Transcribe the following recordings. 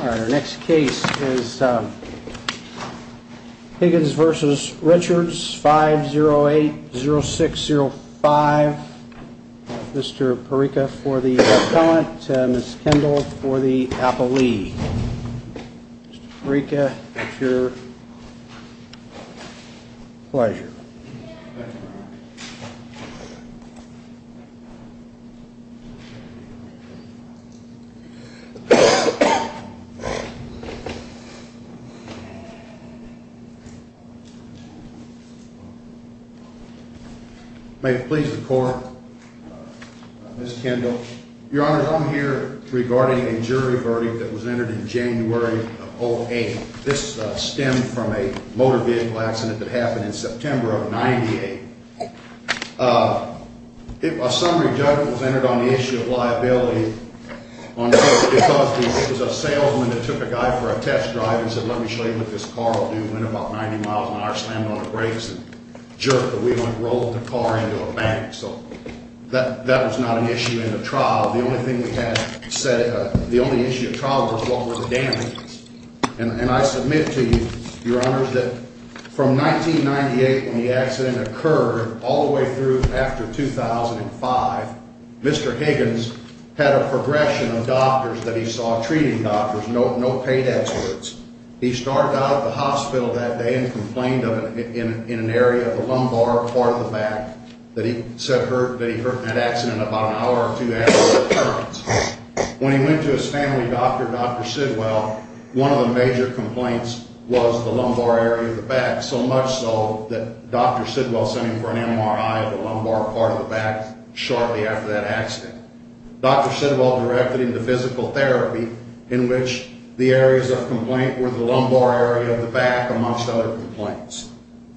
Our next case is Higgins v. Richards 5080605 Mr. Perica for the appellant and Ms. Kendall for the appellee Mr. Perica, it's your pleasure May it please the court, Ms. Kendall Your honor, I'm here regarding a jury verdict that was entered in January of 08 This stemmed from a motor vehicle accident that happened in September of 98 A summary judgment was entered on the issue of liability It was a salesman that took a guy for a test drive and said let me show you what this car will do He went about 90 miles an hour, slammed on the brakes and jerked the wheel and rolled the car into a bank So that was not an issue in the trial The only issue at trial was what were the damages And I submit to you, your honor, that from 1998 when the accident occurred all the way through after 2005 Mr. Higgins had a progression of doctors that he saw treating doctors, no paid experts He started out at the hospital that day and complained of it in an area of the lumbar part of the back That he said that he hurt in that accident about an hour or two after the appearance When he went to his family doctor, Dr. Sidwell, one of the major complaints was the lumbar area of the back So much so that Dr. Sidwell sent him for an MRI of the lumbar part of the back shortly after that accident Dr. Sidwell directed him to physical therapy in which the areas of complaint were the lumbar area of the back Amongst other complaints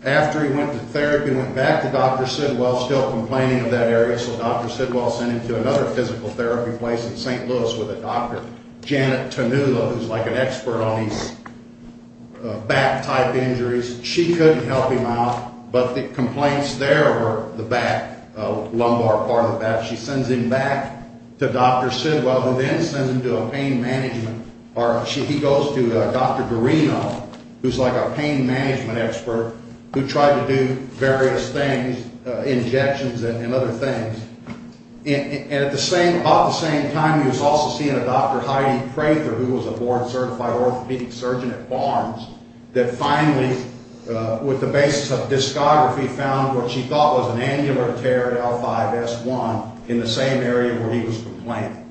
After he went to therapy and went back to Dr. Sidwell still complaining of that area So Dr. Sidwell sent him to another physical therapy place in St. Louis with a doctor, Janet Tanula Who's like an expert on these back type injuries She couldn't help him out, but the complaints there were the back, lumbar part of the back She sends him back to Dr. Sidwell who then sends him to a pain management He goes to Dr. Dorino who's like a pain management expert Who tried to do various things, injections and other things And at about the same time he was also seeing a Dr. Heidi Prather Who was a board certified orthopedic surgeon at Barnes That finally, with the basis of discography, found what she thought was an angular tear at L5-S1 In the same area where he was complaining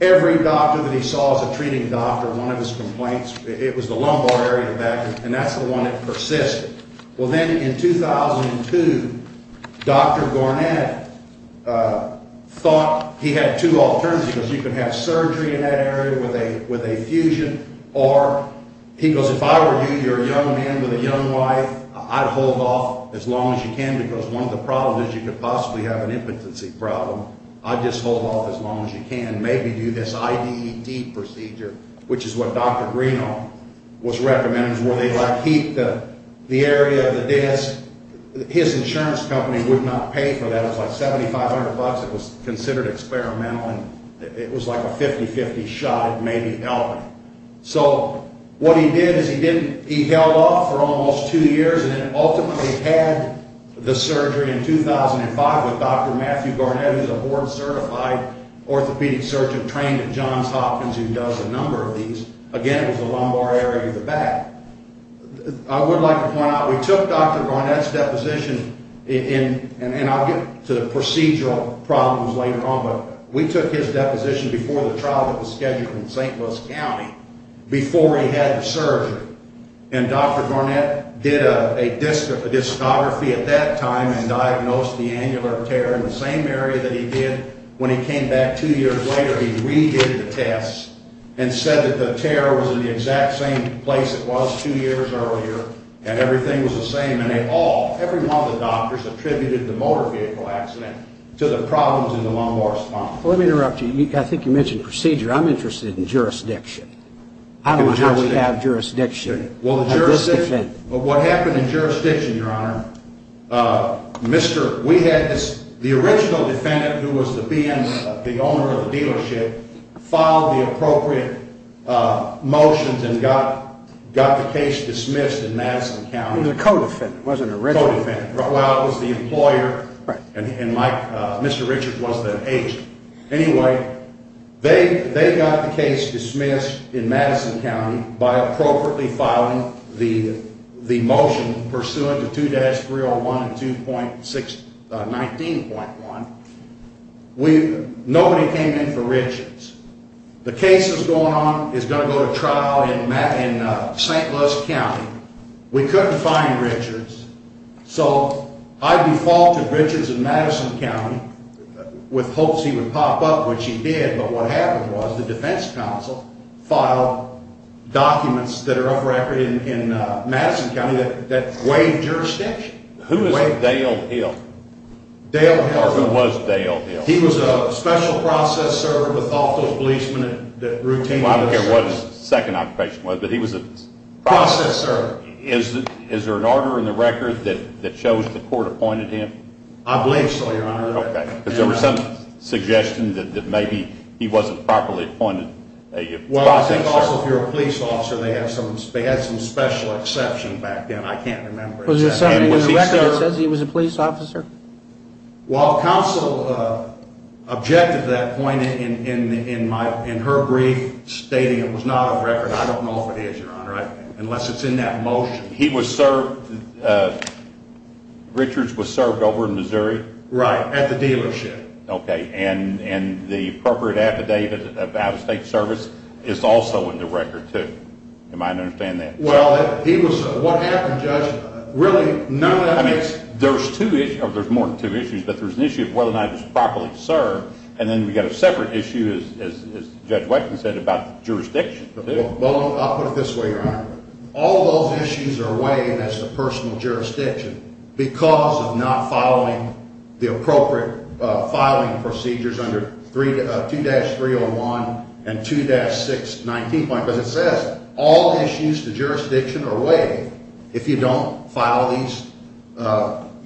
Every doctor that he saw as a treating doctor, one of his complaints, it was the lumbar area of the back And that's the one that persisted Well then in 2002, Dr. Garnett thought he had two alternatives He could have surgery in that area with a fusion Or he goes, if I were you, you're a young man with a young wife I'd hold off as long as you can because one of the problems is you could possibly have an impotency problem I'd just hold off as long as you can, maybe do this IEDT procedure Which is what Dr. Dorino was recommending Where they heat the area of the disc His insurance company would not pay for that It was like $7500, it was considered experimental It was like a 50-50 shot at maybe helping So what he did is he held off for almost two years And ultimately had the surgery in 2005 With Dr. Matthew Garnett who's a board certified orthopedic surgeon Trained at Johns Hopkins who does a number of these Again, it was the lumbar area of the back I would like to point out, we took Dr. Garnett's deposition And I'll get to the procedural problems later on But we took his deposition before the trial that was scheduled in St. Louis County Before he had the surgery And Dr. Garnett did a discography at that time And diagnosed the annular tear in the same area that he did When he came back two years later he re-did the tests And said that the tear was in the exact same place it was two years earlier And everything was the same And they all, every one of the doctors attributed the motor vehicle accident To the problems in the lumbar spine Let me interrupt you, I think you mentioned procedure I'm interested in jurisdiction I don't know how we have jurisdiction What happened in jurisdiction, your honor The original defendant who was the owner of the dealership Filed the appropriate motions and got the case dismissed in Madison County The co-defendant, wasn't it? The co-defendant, well it was the employer And Mr. Richard was the agent Anyway, they got the case dismissed in Madison County By appropriately filing the motion Pursuant to 2-301-19.1 Nobody came in for Richards The case is going to go to trial in St. Louis County We couldn't find Richards So I defaulted Richards in Madison County With hopes he would pop up, which he did But what happened was the defense counsel Filed documents that are off record in Madison County That waived jurisdiction Who is Dale Hill? Dale Hill Or who was Dale Hill? He was a special process server With all those policemen that routinely Well I don't care what his second occupation was But he was a Is there an order in the record that shows the court appointed him? I believe so, your honor Because there was some suggestion that maybe He wasn't properly appointed Well I think also if you're a police officer They had some special exception back then I can't remember Was there something in the record that says he was a police officer? Well the counsel objected to that point In her brief stating it was not off record I don't know if it is, your honor Unless it's in that motion He was served Richards was served over in Missouri Right, at the dealership Okay, and the appropriate affidavit of out-of-state service Is also in the record too You might understand that Well, he was What happened, Judge? Really none of this There's two issues There's more than two issues But there's an issue of whether or not he was properly served And then we've got a separate issue As Judge Watkins said about jurisdiction Well I'll put it this way, your honor All those issues are waived as a personal jurisdiction Because of not following the appropriate filing procedures Under 2-301 and 2-619 Because it says all issues to jurisdiction are waived If you don't file these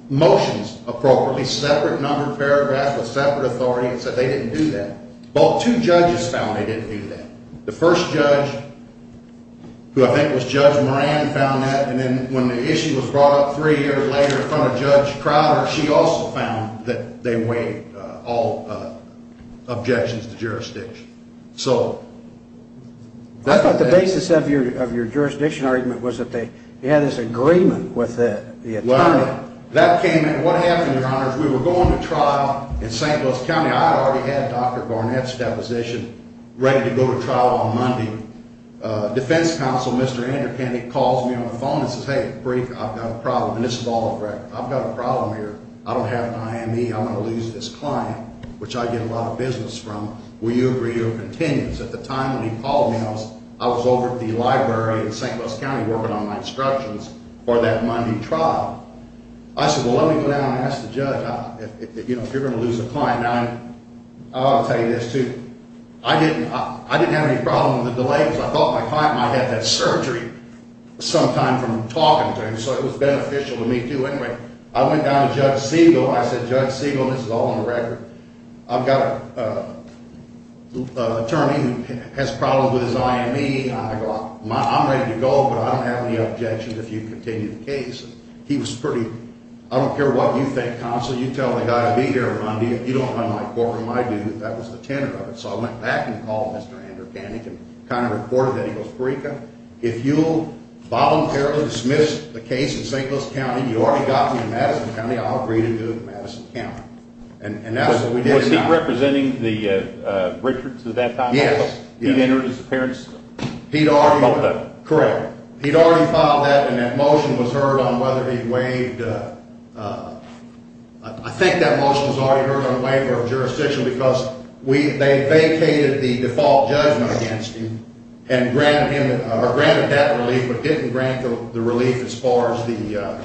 motions appropriately Separate numbered paragraphs with separate authority It said they didn't do that Well two judges found they didn't do that The first judge, who I think was Judge Moran And then when the issue was brought up three years later In front of Judge Crowder She also found that they waived all objections to jurisdiction So I thought the basis of your jurisdiction argument Was that they had this agreement with the attorney Well, that came in What happened, your honors We were going to trial in St. Louis County I already had Dr. Garnett's deposition Ready to go to trial on Monday Defense counsel, Mr. Andrew Kennedy Calls me on the phone and says Hey, brief, I've got a problem And this is all on record I've got a problem here I don't have an IME I'm going to lose this client Which I get a lot of business from Will you agree or continue? So at the time when he called me I was over at the library in St. Louis County Working on my instructions for that Monday trial I said, well let me go down and ask the judge If you're going to lose a client Now, I ought to tell you this too I didn't have any problem with the delay I thought my client might have had that surgery Sometime from talking to him So it was beneficial to me too I went down to Judge Siegel I said, Judge Siegel, this is all on record I've got an attorney who has problems with his IME I'm ready to go, but I don't have any objections If you continue the case He was pretty I don't care what you think, counsel You tell the guy to be here on Monday If you don't mind my courtroom, I do That was the tenor of it So I went back and called Mr. Andrew Kennedy He kind of reported that He goes, Perica, if you voluntarily dismiss the case In St. Louis County You already got me in Madison County I'll agree to do it in Madison County And that's what we did Was he representing the Richards at that time? Yes He'd entered his appearance? He'd already Correct He'd already filed that And that motion was heard on whether he'd waived I think that motion was already heard On the waiver of jurisdiction They vacated the default judgment against him And granted him Or granted that relief But didn't grant the relief As far as the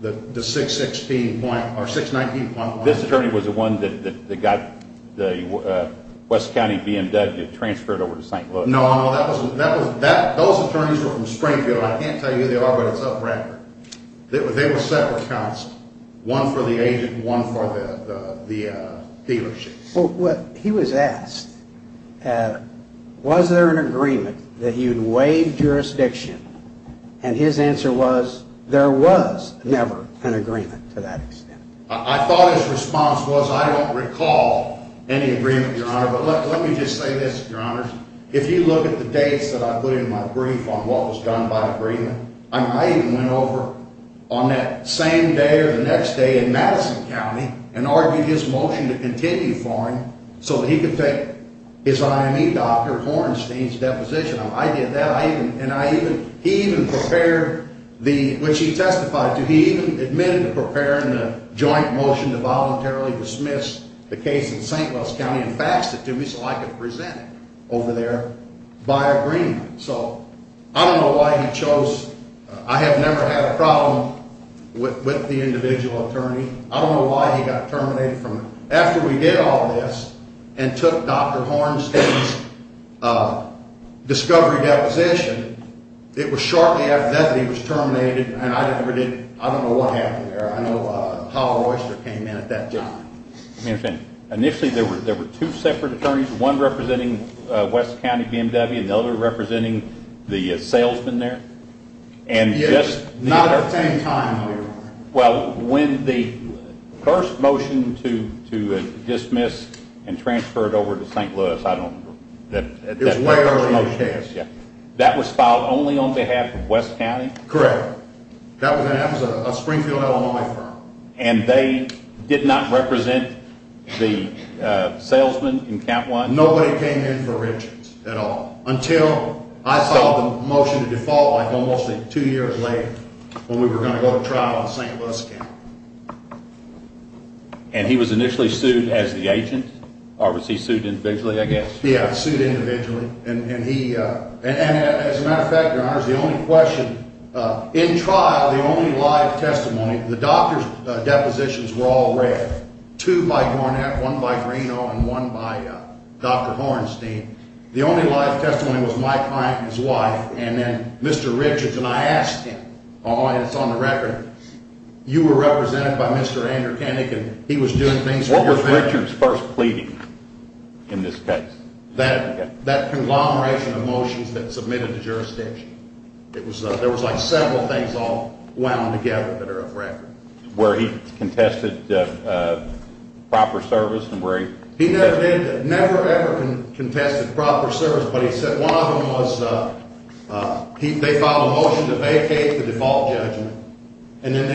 619.1 This attorney was the one that got the West County BMW Transferred over to St. Louis No, no Those attorneys were from Springfield I can't tell you who they are But it's up record They were separate counts One for the agent And one for the dealership He was asked Was there an agreement that he would waive jurisdiction? And his answer was There was never an agreement to that extent I thought his response was I don't recall any agreement, Your Honor But let me just say this, Your Honor If you look at the dates that I put in my brief On what was done by agreement I even went over on that same day or the next day In Madison County And argued his motion to continue for him So that he could take his IME doctor Hornstein's deposition I did that And he even prepared Which he testified to He even admitted to preparing the joint motion To voluntarily dismiss the case in St. Louis County And faxed it to me So I could present it over there by agreement So I don't know why he chose I have never had a problem With the individual attorney I don't know why he got terminated After we did all this And took Dr. Hornstein's discovery deposition It was shortly after that that he was terminated And I don't know what happened there I know Howell Royster came in at that time Initially there were two separate attorneys One representing West County BMW And the other representing the salesman there Not at the same time, Your Honor Well, when the first motion to dismiss And transfer it over to St. Louis I don't remember It was way over his head That was filed only on behalf of West County? Correct That was a Springfield, Illinois firm And they did not represent the salesman in count one? Nobody came in for mentions at all Until I saw the motion to default Like almost two years later When we were going to go to trial in St. Louis County And he was initially sued as the agent? Or was he sued individually, I guess? Yeah, sued individually And as a matter of fact, Your Honor The only question In trial, the only live testimony The doctor's depositions were all red Two by Garnett, one by Greeno And one by Dr. Hornstein The only live testimony was my client and his wife And then Mr. Richards and I asked him Oh, and it's on the record You were represented by Mr. Andrew Koenig And he was doing things for your benefit What was Richards first pleading in this case? That conglomeration of motions that submitted to jurisdiction There was like several things all wound together that are of record Where he contested proper service and where he He never ever contested proper service But he said one of them was They filed a motion to vacate the default judgment And then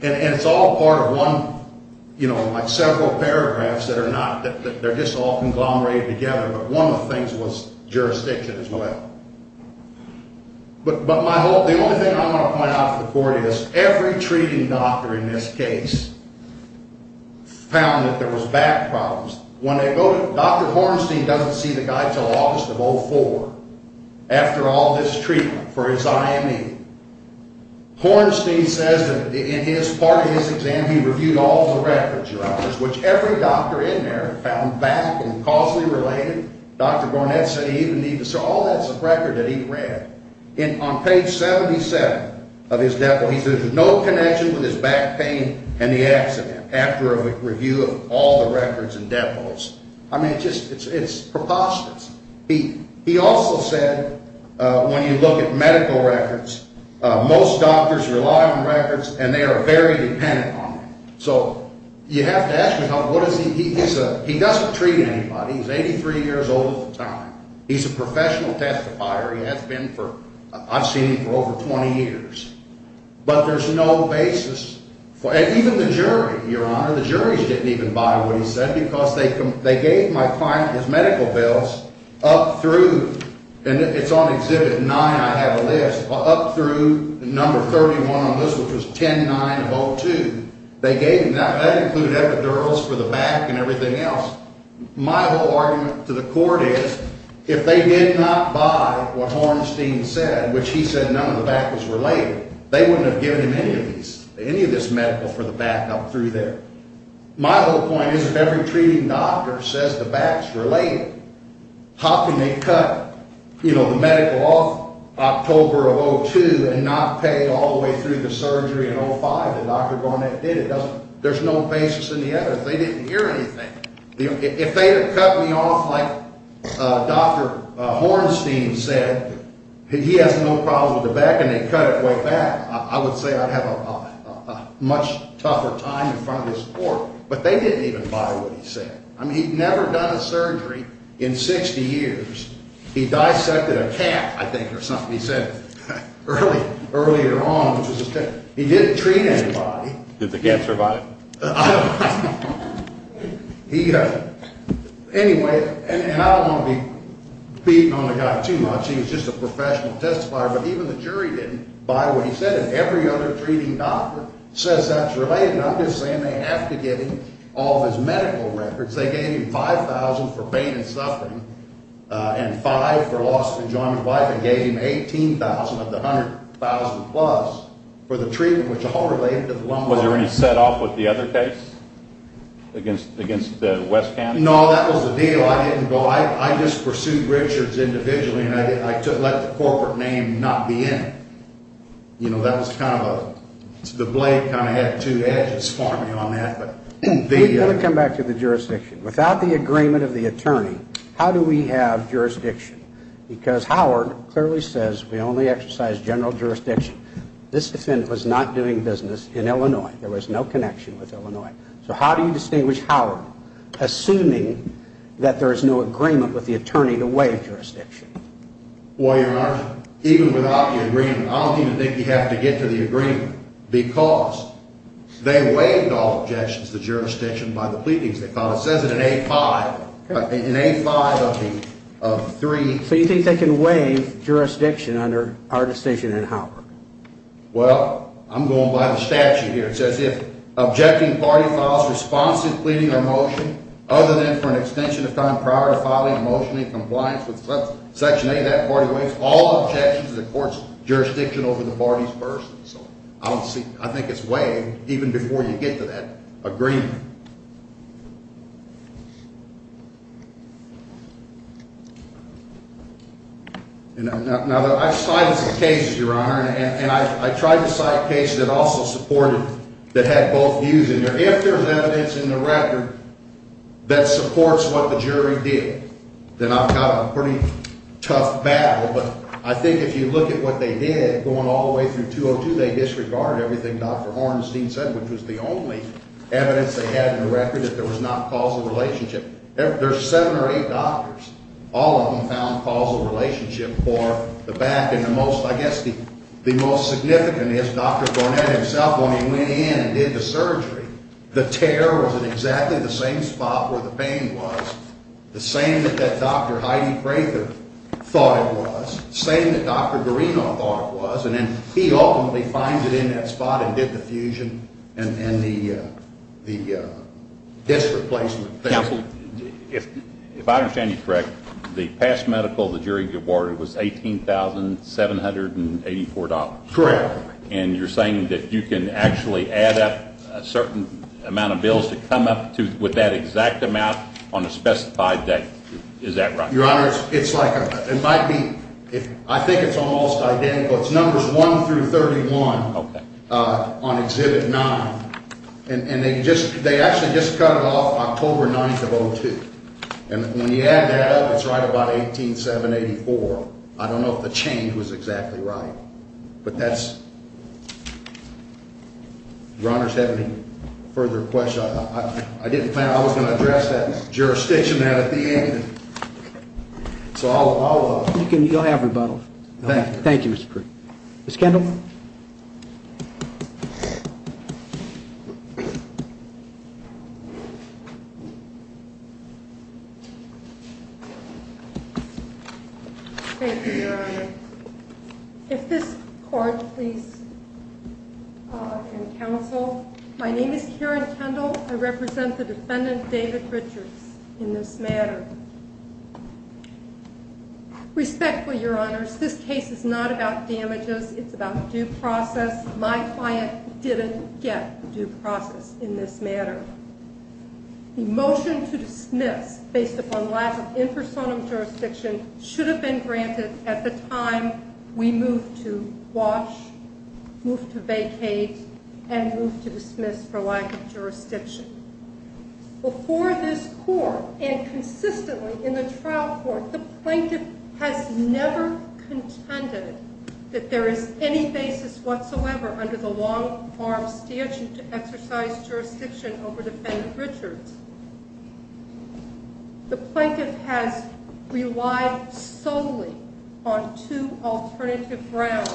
they And it's all part of one You know, like several paragraphs that are not They're just all conglomerated together But one of the things was jurisdiction as well But my whole The only thing I want to point out before it is Every treating doctor in this case Found that there was back problems Dr. Hornstein doesn't see the guy until August of 2004 After all this treatment for his IME Hornstein says that in part of his exam He reviewed all of the records, Your Honor Which every doctor in there found back and causally related Dr. Gornet said he even needed to So all that's a record that he read On page 77 of his default He said there's no connection with his back pain and the accident After a review of all the records and defaults I mean, it's preposterous He also said when you look at medical records Most doctors rely on records And they are very dependent on them So you have to ask me how He doesn't treat anybody He's 83 years old at the time He's a professional testifier I've seen him for over 20 years But there's no basis Even the jury, Your Honor The juries didn't even buy what he said Because they gave my client his medical bills Up through, and it's on exhibit 9 I have a list Up through number 31 on this Which was 10-9-02 They gave him that That included epidurals for the back and everything else My whole argument to the court is If they did not buy what Hornstein said Which he said none of the back was related They wouldn't have given him any of these Any of this medical for the back up through there My whole point is If every treating doctor says the back's related How can they cut, you know, the medical off October of 02 And not pay all the way through the surgery in 05 That Dr. Garnett did There's no basis in the evidence They didn't hear anything If they had cut me off like Dr. Hornstein said He has no problem with the back And they cut it way back I would say I'd have a much tougher time in front of this court But they didn't even buy what he said I mean, he'd never done a surgery in 60 years He dissected a cat, I think, or something He said earlier on He didn't treat anybody Did the cat survive? Anyway, and I don't want to be beating on the guy too much He was just a professional testifier But even the jury didn't buy what he said And every other treating doctor says that's related And I'm just saying they have to get him All of his medical records They gave him $5,000 for pain and suffering And $5,000 for loss of enjoyment of life And gave him $18,000 of the $100,000 plus For the treatment, which all related to the lumbar Was there any set off with the other case? Against the West Ham? No, that was the deal I didn't go I just pursued Richards individually And I let the corporate name not be in it You know, that was kind of a The blade kind of had two edges for me on that We've got to come back to the jurisdiction Without the agreement of the attorney How do we have jurisdiction? Because Howard clearly says We only exercise general jurisdiction This defendant was not doing business in Illinois There was no connection with Illinois So how do you distinguish Howard? Assuming that there is no agreement with the attorney Well, Your Honor, even without the agreement I don't even think you have to get to the agreement Because they waived all objections to jurisdiction By the pleadings they filed It says it in A5 In A5 of the three So you think they can waive jurisdiction Under our decision in Howard? Well, I'm going by the statute here It says if objecting party files Responsive pleading or motion Other than for an extension of time Prior to filing a motion in compliance with Section 8 That party waives all objections to the court's jurisdiction Over the party's person So I think it's waived Even before you get to that agreement Now, I've cited some cases, Your Honor And I tried to cite cases that also supported That had both views in there If there's evidence in the record That supports what the jury did Then I've got a pretty tough battle But I think if you look at what they did Going all the way through 202 They disregarded everything Dr. Hornstein said Which was the only evidence they had in the record That there was not causal relationship There's seven or eight doctors All of them found causal relationship For the back and the most, I guess The most significant is Dr. Gornett himself When he went in and did the surgery The tear was in exactly the same spot Where the pain was The same that Dr. Heidi Prather thought it was Same that Dr. Garino thought it was And then he ultimately finds it in that spot And did the fusion and the disc replacement Counsel, if I understand you correct The past medical the jury awarded Was $18,784 Correct And you're saying that you can actually Add up a certain amount of bills To come up with that exact amount On a specified date Is that right? Your honor, it's like It might be I think it's almost identical It's numbers 1 through 31 Okay On exhibit 9 And they actually just cut it off October 9th of 02 And when you add that up It's right about $18,784 I don't know if the change was exactly right But that's If your honors have any further questions I didn't plan, I was going to address that Jurisdiction there at the end So I'll You can, you don't have rebuttal Thank you Ms. Kendall Thank you your honor If this court please And counsel My name is Karen Kendall I represent the defendant David Richards In this matter Respectfully your honors This case is not about damages It's about due process My client didn't get due process In this matter The motion to dismiss Based upon lack of in personam jurisdiction Should have been granted At the time we moved to Wash, moved to vacate And moved to dismiss For lack of jurisdiction Before this court And consistently in the trial Court, the plaintiff has Never contended That there is any basis Whatsoever under the long arm Statute to exercise jurisdiction Over defendant Richards The plaintiff has relied Solely on two Alternative grounds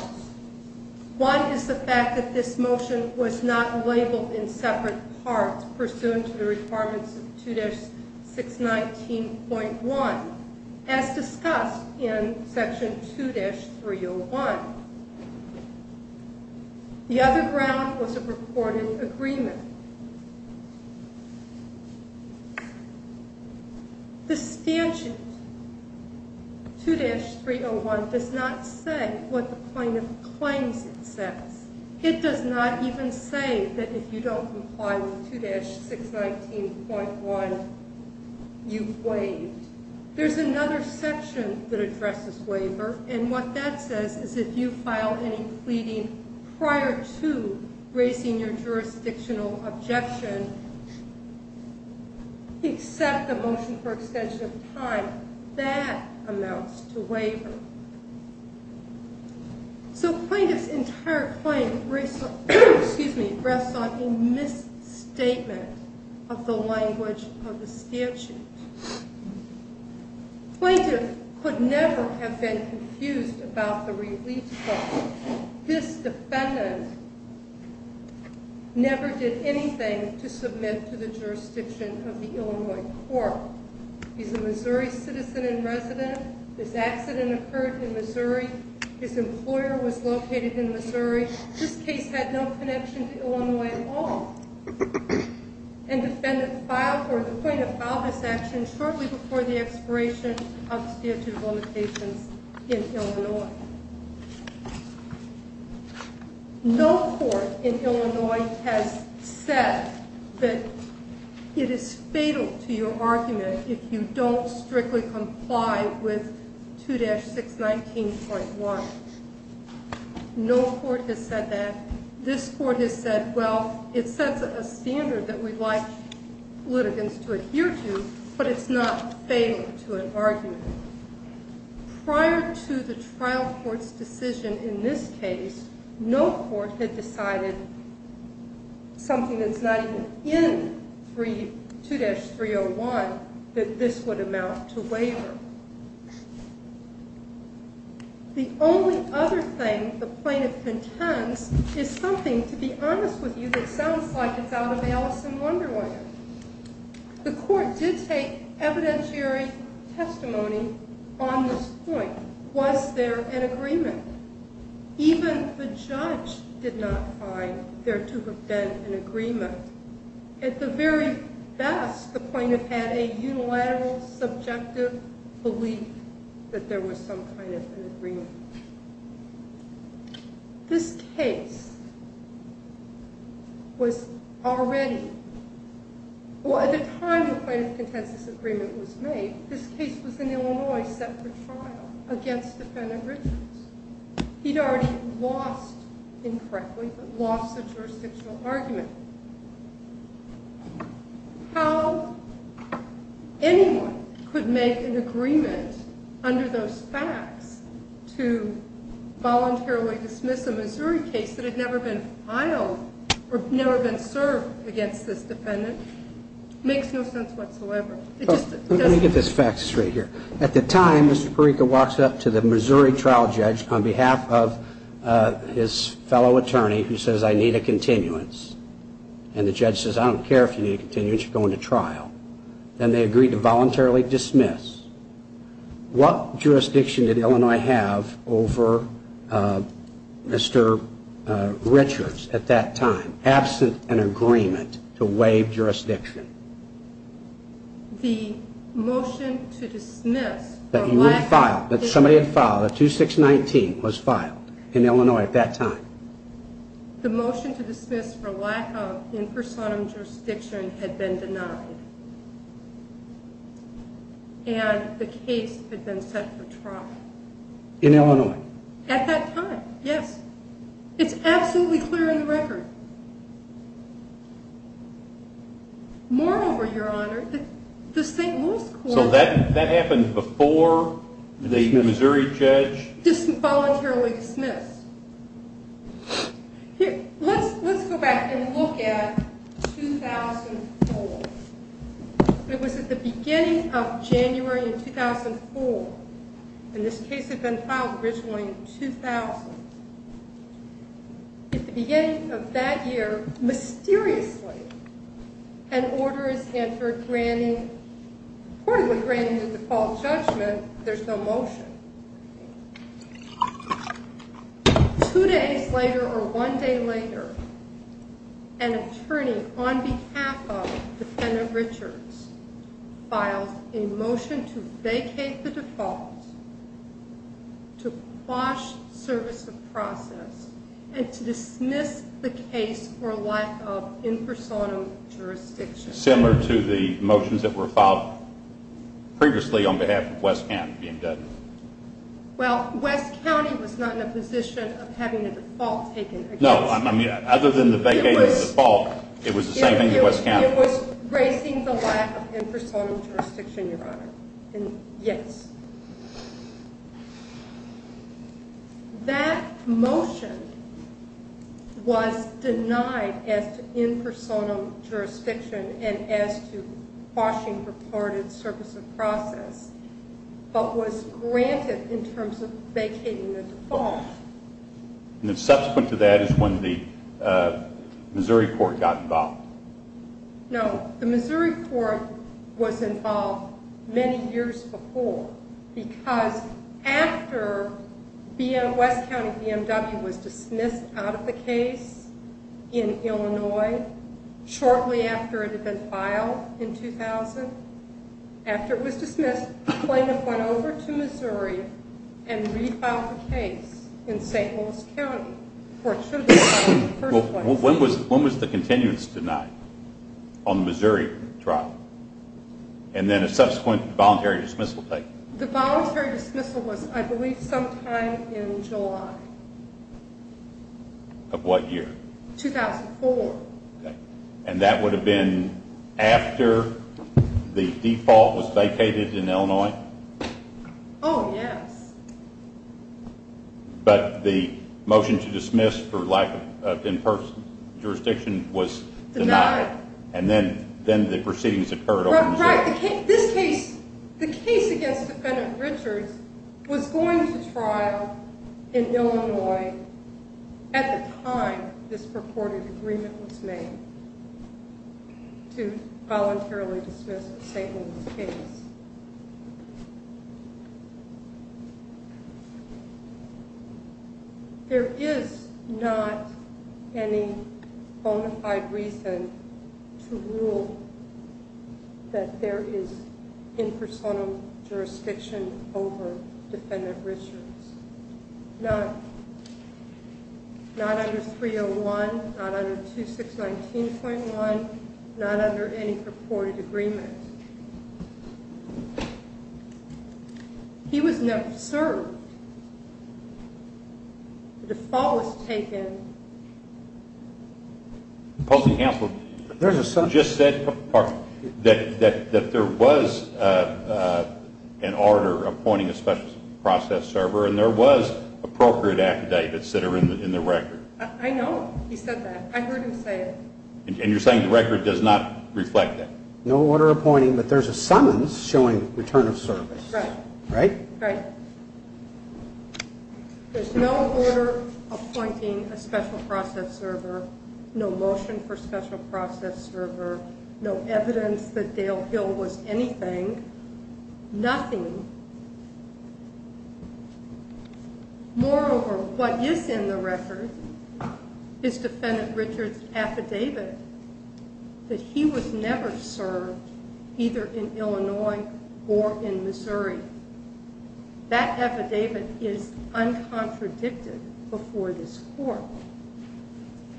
One is the fact that this motion Was not labeled in separate Parts pursuant to the requirements Of 2-619.1 As discussed in Section 2-301 The other ground was a reported Agreement The stanchion 2-301 Does not say What the plaintiff claims it says It does not even say That if you don't comply with 2-619.1 You've waived There's another section That addresses waiver And what that says is if you file Any pleading prior to Raising your jurisdictional Objection Accept the motion For extension of time That amounts to waiver So plaintiff's entire claim Rests on A misstatement Of the language Of the statute Plaintiff Could never have been confused About the release clause This defendant Never did anything To submit to the jurisdiction Of the Illinois court He's a Missouri citizen and resident This accident occurred In Missouri His employer was located in Missouri This case had no connection to Illinois At all And defendant filed Or the plaintiff filed this action Shortly before the expiration Of statute of limitations In Illinois No court in Illinois Has said That it is fatal To your argument if you don't Strictly comply with 2-619.1 No court has said that This court has said well It sets a standard that we'd like Litigants to adhere to But it's not fatal to an argument Prior to the trial court's decision In this case No court had decided Something that's not even In 2-301 That this would amount to waiver The only other thing The plaintiff contends Is something to be honest with you That sounds like it's out of Alice in Wonderland The court did take evidentiary Testimony on this point Was there an agreement Even the judge Did not find there to have been An agreement At the very best The plaintiff had a unilateral Subjective belief That there was some kind of an agreement This case Was Already Well at the time the plaintiff contends This agreement was made This case was in Illinois set for trial Against defendant Richards He'd already lost Incorrectly Lost the jurisdictional argument How Anyone could make an agreement Under those facts To Voluntarily dismiss a Missouri case That had never been filed Or never been served Against this defendant Makes no sense whatsoever Let me get this Fact straight here At the time Mr. Perica walks up to the Missouri trial judge On behalf of His fellow attorney Who says I need a continuance And the judge says I don't care if you need a continuance You're going to trial And they agree to voluntarily dismiss What jurisdiction Did Illinois have Over Mr. Richards At that time Absent an agreement To waive jurisdiction The Motion to dismiss That you had filed That 2619 was filed In Illinois at that time The motion to dismiss For lack of in personam jurisdiction Had been denied And the case had been set for trial In Illinois At that time yes It's absolutely clear in the record Moreover Your honor The St. Louis court So that happened before The Missouri judge Voluntarily dismissed Let's go back And look at 2004 It was at the beginning of January In 2004 And this case had been filed Originally in 2000 At the beginning Of that year mysteriously An order Is entered granting According to granting the default judgment There's no motion Two days later Or one day later An attorney on behalf Of defendant Richards Files a motion To vacate the default To Quash service of process And to dismiss The case for lack of In personam jurisdiction Similar to the motions that were filed Previously on behalf of West County being dead Well West County was not in a position Of having a default taken No I mean other than the vacating The default it was the same thing It was raising the lack of In personam jurisdiction your honor And yes That motion Was denied As to in personam Jurisdiction And as to quashing Reported service of process But was granted In terms of vacating the default And subsequent to that Is when the Missouri court got involved No the Missouri court Was involved Many years before Because after West County BMW was dismissed out of the case In Illinois Shortly after it Had been filed in 2000 After it was dismissed The plaintiff went over to Missouri And refiled the case In St. Louis County When was the continuance denied? On the Missouri trial? And then a subsequent Voluntary dismissal The voluntary dismissal was I believe Sometime in July Of what year? 2004 And that would have been After The default was vacated in Illinois Oh yes But the motion to dismiss For lack of in personam Jurisdiction was denied And then the proceedings Right The case against Richard was going to trial In Illinois At the time This purported agreement was made To Voluntarily dismiss The St. Louis case There is Not any Bonafide reason To rule That there is In personam jurisdiction Over defendant Richard Not Not under 301, not under 2619.1 Not under any purported agreement He was Never served The default was Taken There is No Order Appointing A special process Server And there was Appropriate affidavits That are in the record I know He said that I heard him say it And you're saying The record does not Have a special process server No motion for special process server No evidence that Dale Hill Was anything Nothing Moreover, what is in the record Is defendant Richard's Affidavit That he was never served Either in Illinois Or in Missouri That affidavit Is uncontradicted Before this court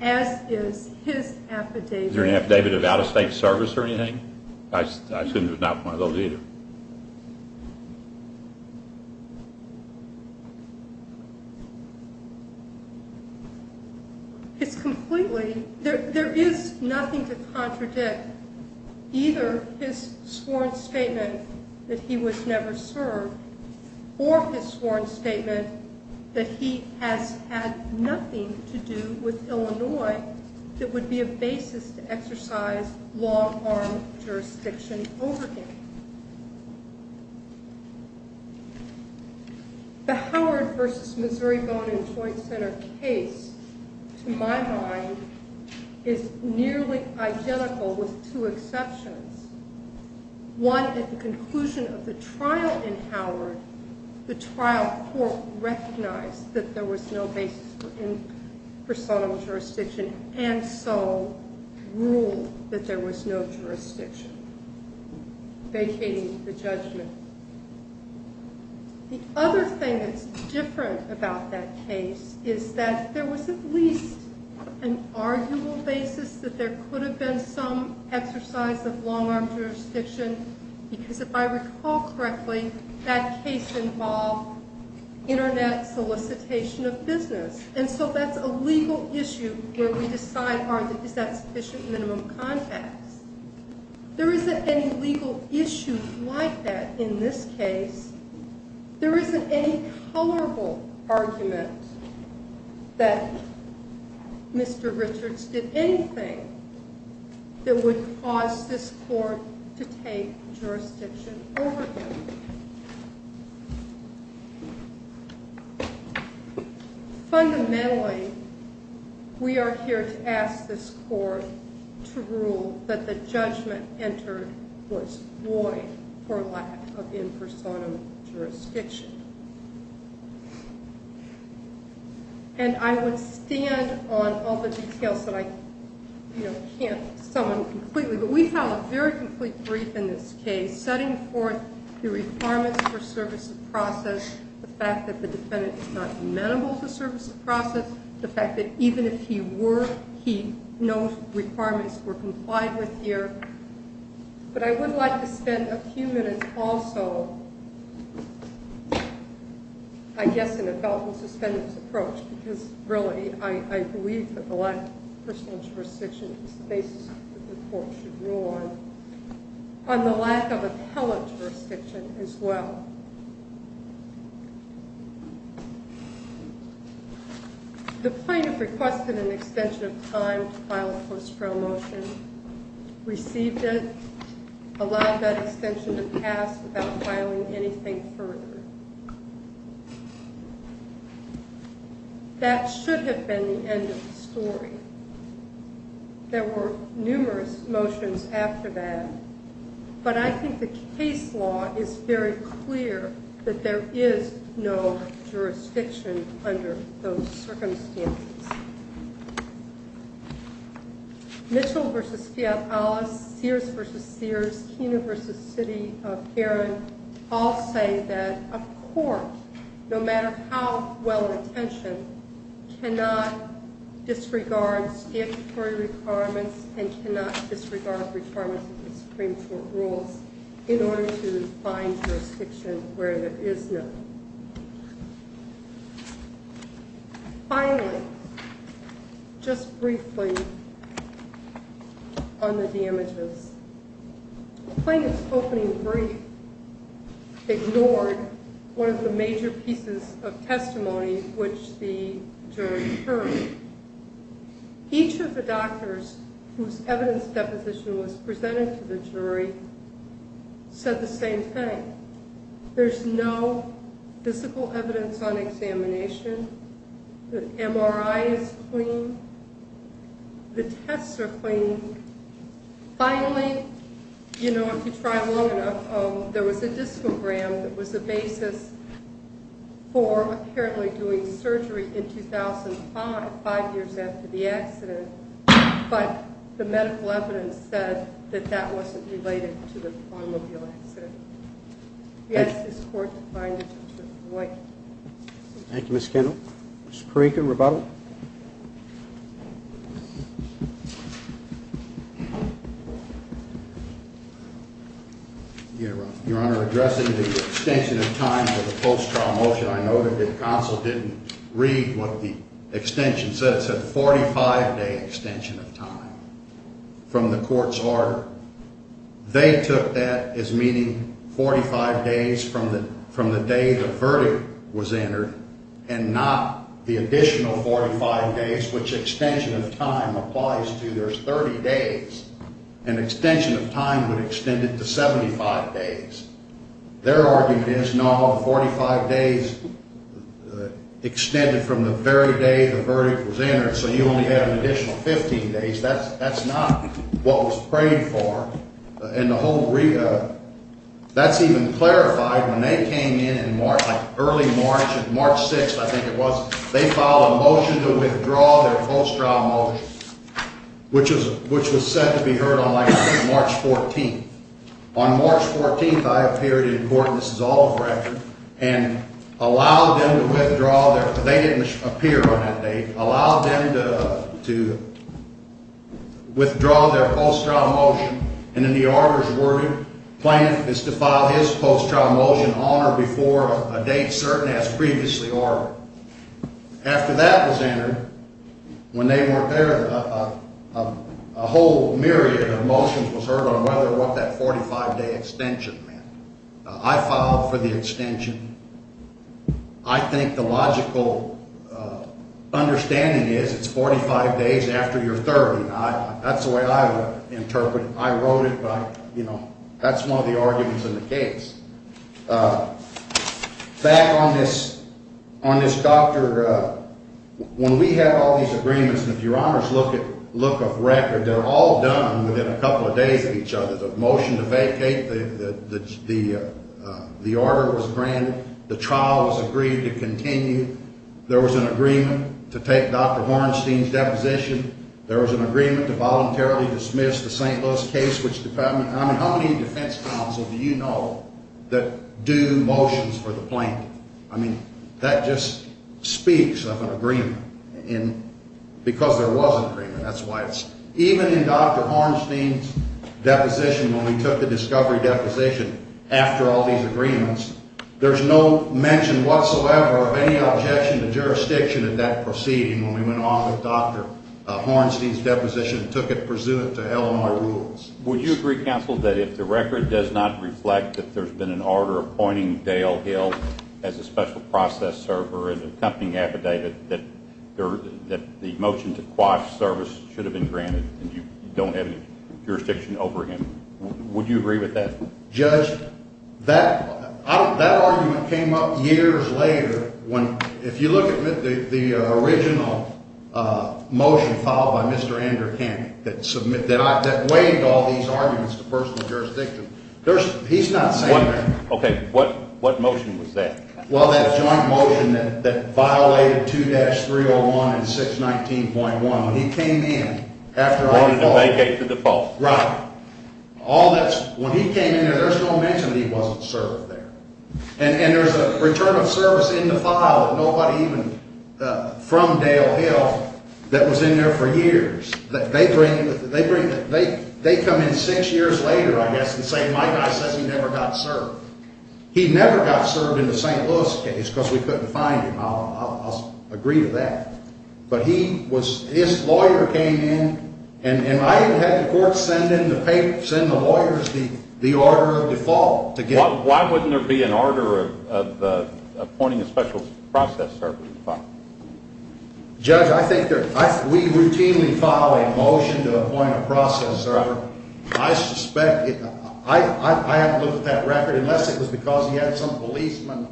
As is his Affidavit Is there an affidavit of out of state service or anything I shouldn't have knocked one of those either It's completely There is nothing To contradict Either his sworn statement That he was never served Or his sworn statement That he has had Nothing to do with Illinois That would be a basis To exercise long arm Jurisdiction over him The Howard versus Missouri Bone and Joint Center case To my mind Is nearly identical With two exceptions One at the conclusion Of the trial in Howard The trial court Recognized that there was no basis For subtle jurisdiction And so Ruled that there was no jurisdiction Vacating the judgment The other thing That's different about that case Is that there was at least An arguable basis That there could have been some Exercise of long arm jurisdiction Because if I recall correctly That case involved Internet solicitation Of business and so that's a legal Issue where we decide Is that sufficient minimum context There isn't any Legal issue like that In this case There isn't any colorable Argument That Mr. Richards did anything That would cause This court to take Subtle jurisdiction over him Fundamentally We are here To ask this court To rule that the judgment Entered was void For lack of impersonal Jurisdiction And I would stand On all the details that I Can't sum completely But we have a very complete brief In this case setting forth The requirements for service of process The fact that the defendant Is not amenable to service of process The fact that even if he were He knows requirements Were complied with here But I would like to spend A few minutes also I guess in a felt and suspended Approach because really I believe that the lack of personal Jurisdiction is the basis That the court should rule on On the lack of appellate Jurisdiction as well The plaintiff requested An extension of time to file a Post-trial motion Received it Allowed that extension to pass Without filing anything further That should have been The end of the story There were numerous Motions after that But I think the case law Is very clear That there is no Jurisdiction under those Circumstances Mitchell v. Fiat Alice Sears v. Sears Keener v. City of Heron All say that a court No matter how well Attention cannot Disregard statutory Requirements and cannot Disregard requirements of the Supreme Court rules in order to Find jurisdiction where there Is none Finally Just briefly On the damages The plaintiff's opening Brief Ignored one of the major Pieces of testimony Which the jury heard Each of the doctors Whose evidence deposition Was presented to the jury Said the same thing There's no Physical evidence on Examination The MRI is clean The tests are clean Finally You know if you try long enough There was a discogram That was the basis For apparently doing Surgery in 2005 Five years after the accident But the medical evidence Said that that wasn't related To the automobile accident We ask this court To find it Thank you Ms. Kendall Ms. Parikh in rebuttal Your honor Addressing the extension of time For the post trial motion I know that the Council didn't read what The extension said It said 45 day extension of time From the court's order They took that as meaning 45 days from the From the day the Verdict was entered And not the additional 45 days which they Which extension of time Applies to there's 30 days An extension of time would Extend it to 75 days Their argument is no 45 days Extended from the very day The verdict was entered So you only have an additional 15 days That's not what was prayed for And the whole That's even clarified When they came in in March Like early March, March 6th They filed a motion To withdraw their post trial motion Which was said To be heard on like March 14th On March 14th I appeared in court This is all a record And allowed them to withdraw They didn't appear on that date Allowed them to Withdraw their post trial motion And in the order's wording Planned is to file his Post trial motion on or before A date certain as previously ordered After that was entered When they weren't there A whole myriad Of motions was heard on Whether what that 45 day extension Meant I filed for the extension I think the logical Understanding is It's 45 days after your 30 That's the way I would interpret I wrote it by, you know That's one of the arguments in the case Back on this On this doctor When we have all These agreements And if your honors look of record They're all done within a couple of days Of each other The motion to vacate The order was granted The trial was agreed to continue There was an agreement to take Dr. Hornstein's deposition There was an agreement to voluntarily Dismiss the St. Louis case I mean how many defense counsel Do you know That do motions for the plaintiff I mean that just Speaks of an agreement Because there was an agreement That's why it's Even in Dr. Hornstein's deposition When we took the discovery deposition After all these agreements There's no mention whatsoever Of any objection to jurisdiction At that proceeding when we went along With Dr. Hornstein's deposition And took it pursuant to LMR rules Would you agree counsel that if the record Does not reflect that there's been an order Appointing Dale Hill As a special process server As a company affidavit That the motion to quash service Should have been granted And you don't have any jurisdiction over him Would you agree with that Judge That argument came up years later When if you look at The original Motion Followed by Mr. Andrew Canty That waived all these arguments To personal jurisdiction He's not saying that What motion was that Well that joint motion that violated 2-301 and 619.1 When he came in Wanted to vacate to default Right When he came in there's no mention That he wasn't served there And there's a return of service in the file That nobody even From Dale Hill That was in there for years They come in Six years later I guess And say my guy says he never got served He never got served in the St. Louis case Because we couldn't find him I'll agree to that But his lawyer came in And I had the court Send in the lawyers The order of default Why wouldn't there be an order Appointing a special process Service Judge I think We routinely file a motion To appoint a process I suspect I haven't looked at that record Unless it was because he had some policemen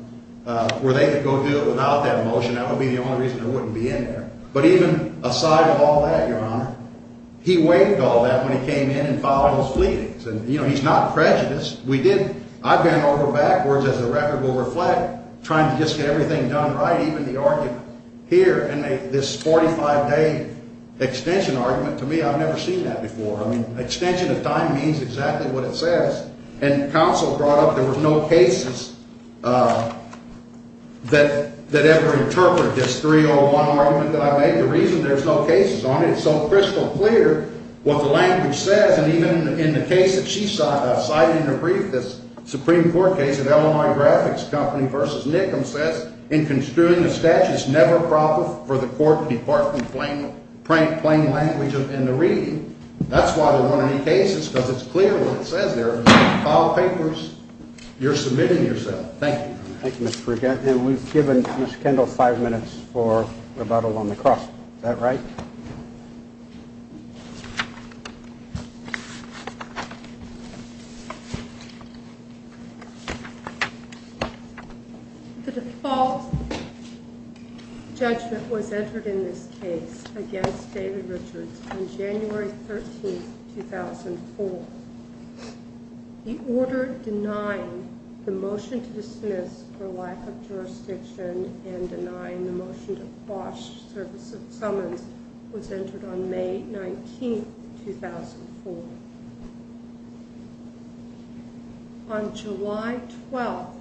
Where they could go do it without that motion That would be the only reason it wouldn't be in there But even aside of all that Your honor he waived all that When he came in and filed his pleadings You know he's not prejudiced I've been over backwards As the record will reflect Trying to just get everything done right Even the argument here And this 45 day extension argument To me I've never seen that before I mean extension of time means exactly what it says And counsel brought up There was no cases That ever Interpret this 301 argument That I made The reason there's no cases on it It's so crystal clear What the language says And even in the case that she cited In her brief The Supreme Court case of Illinois Graphics Company Versus Nickham says In construing the statute It's never proper for the court to depart From plain language in the reading That's why there weren't any cases Because it's clear what it says there File papers You're submitting yourself Thank you We've given Ms. Kendall five minutes For rebuttal on the cross Is that right? The default Judgment was entered In this case against David Richards on January 13 2004 He ordered Denying the motion To dismiss for lack of jurisdiction And denying the motion To quash service of summons Was entered on May 19 2004 On July 12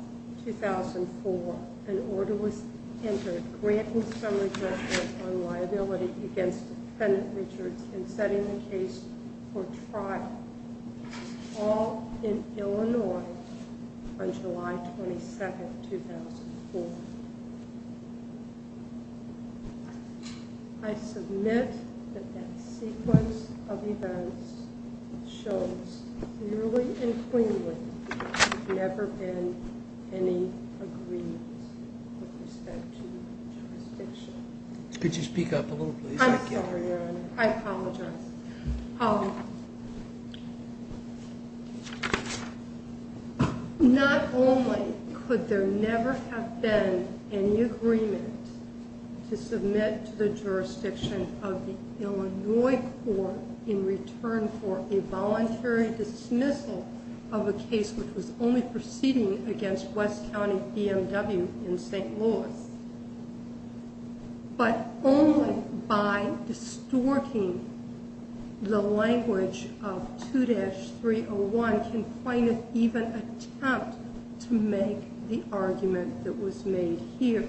2004 An order was entered Granting some rejection On liability against Richard in setting the case For trial All in Illinois On July 22 2004 I submit That that sequence Of events Shows clearly and cleanly There have never been Any agreements With respect to Jurisdiction Could you speak up a little please? I apologize I apologize Not only Could there never have been Any agreement To submit to the jurisdiction Of the Illinois court In return for a voluntary Dismissal of a case Which was only proceeding Against West County BMW In St. Louis But only By distorting The language Of 2-301 Can plaintiff even attempt To make the argument That was made here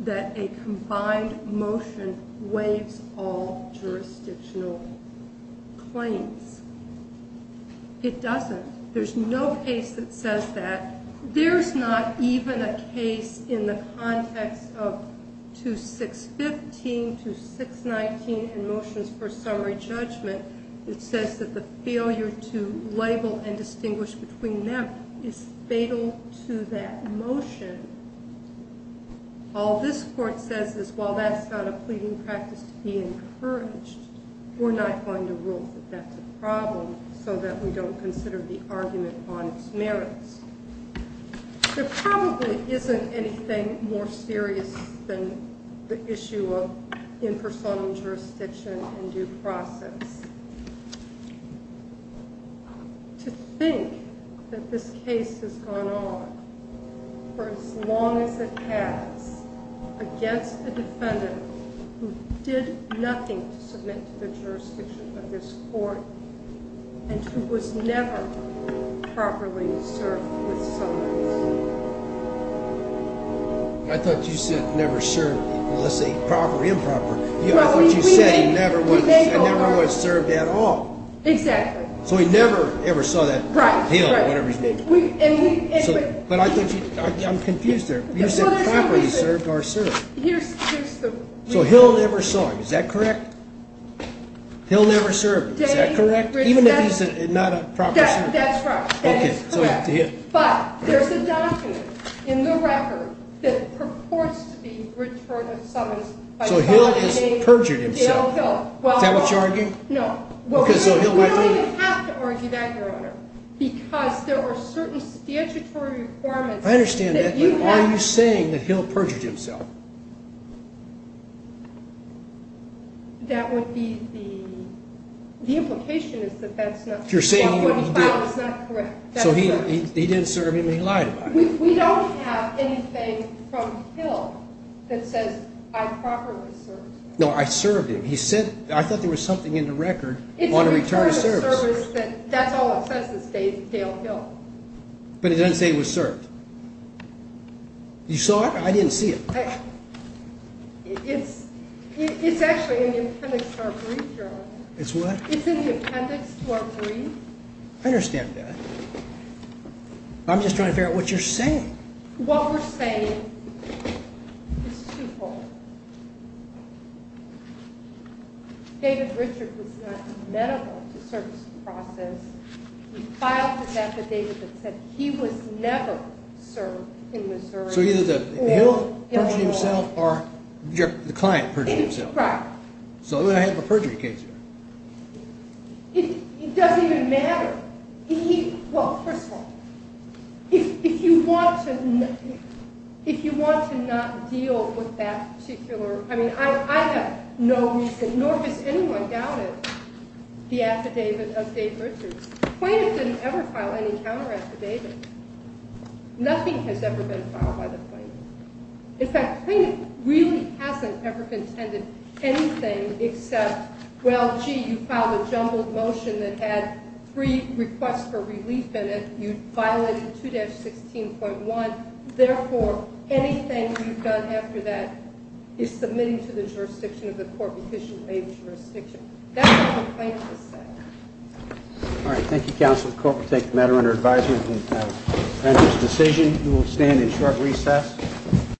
That a combined motion Waives all Jurisdictional Claims It doesn't There's no case that says that There's not even a case In the context of 2-615 2-619 and motions for Summary judgment that says That the failure to label And distinguish between them Is fatal to that motion All this court says is While that's not a pleading practice To be encouraged We're not going to rule that that's a problem So that we don't consider the argument On its merits There probably Isn't anything more serious Than the issue of Impersonal jurisdiction And due process To think That this case has gone on For as long as it has Against a defendant Who did nothing To submit to the jurisdiction Of this court And who was never Properly served With service I thought you said never served Let's say proper improper That's what you said He never was served at all Exactly So he never ever saw that Right I'm confused there You said properly served or served So he'll never serve is that correct He'll never serve Is that correct Even if he's not a proper servant That's right But there's a document in the record That purports to be Return of summons So he'll have perjured himself Is that what you're arguing No Because there were certain Statutory requirements I understand that but are you saying That he'll perjure himself That would be the The implication Is that that's not What he filed is not correct So he didn't serve him And he lied about it We don't have anything from Hill That says I properly served No I served him I thought there was something in the record On a return of service That's all it says is Dale Hill But it doesn't say he was served You saw it I didn't see it It's It's actually in the appendix to our brief It's what It's in the appendix to our brief I understand that I'm just trying to figure out what you're saying What we're saying Is twofold David Richard was not Medical to service the process He filed the method That said he was never Served in Missouri So either Hill perjured himself Or the client perjured himself Right So then I have a perjury case here It doesn't even matter He, well first of all If you want to If you want to not Deal with that particular I mean I have no reason Nor has anyone doubted The affidavit of Dave Richard Plaintiff didn't ever file any Counter affidavit Nothing has ever been filed by the plaintiff In fact the plaintiff Really hasn't ever contended Anything except Well gee you filed a jumbled motion That had three requests For relief in it You violated 2-16.1 Therefore anything you've done After that is submitting To the jurisdiction of the court Because you made a jurisdiction That's what the plaintiff said Alright thank you counsel The court will take the matter under advisement And this decision We will stand in short recess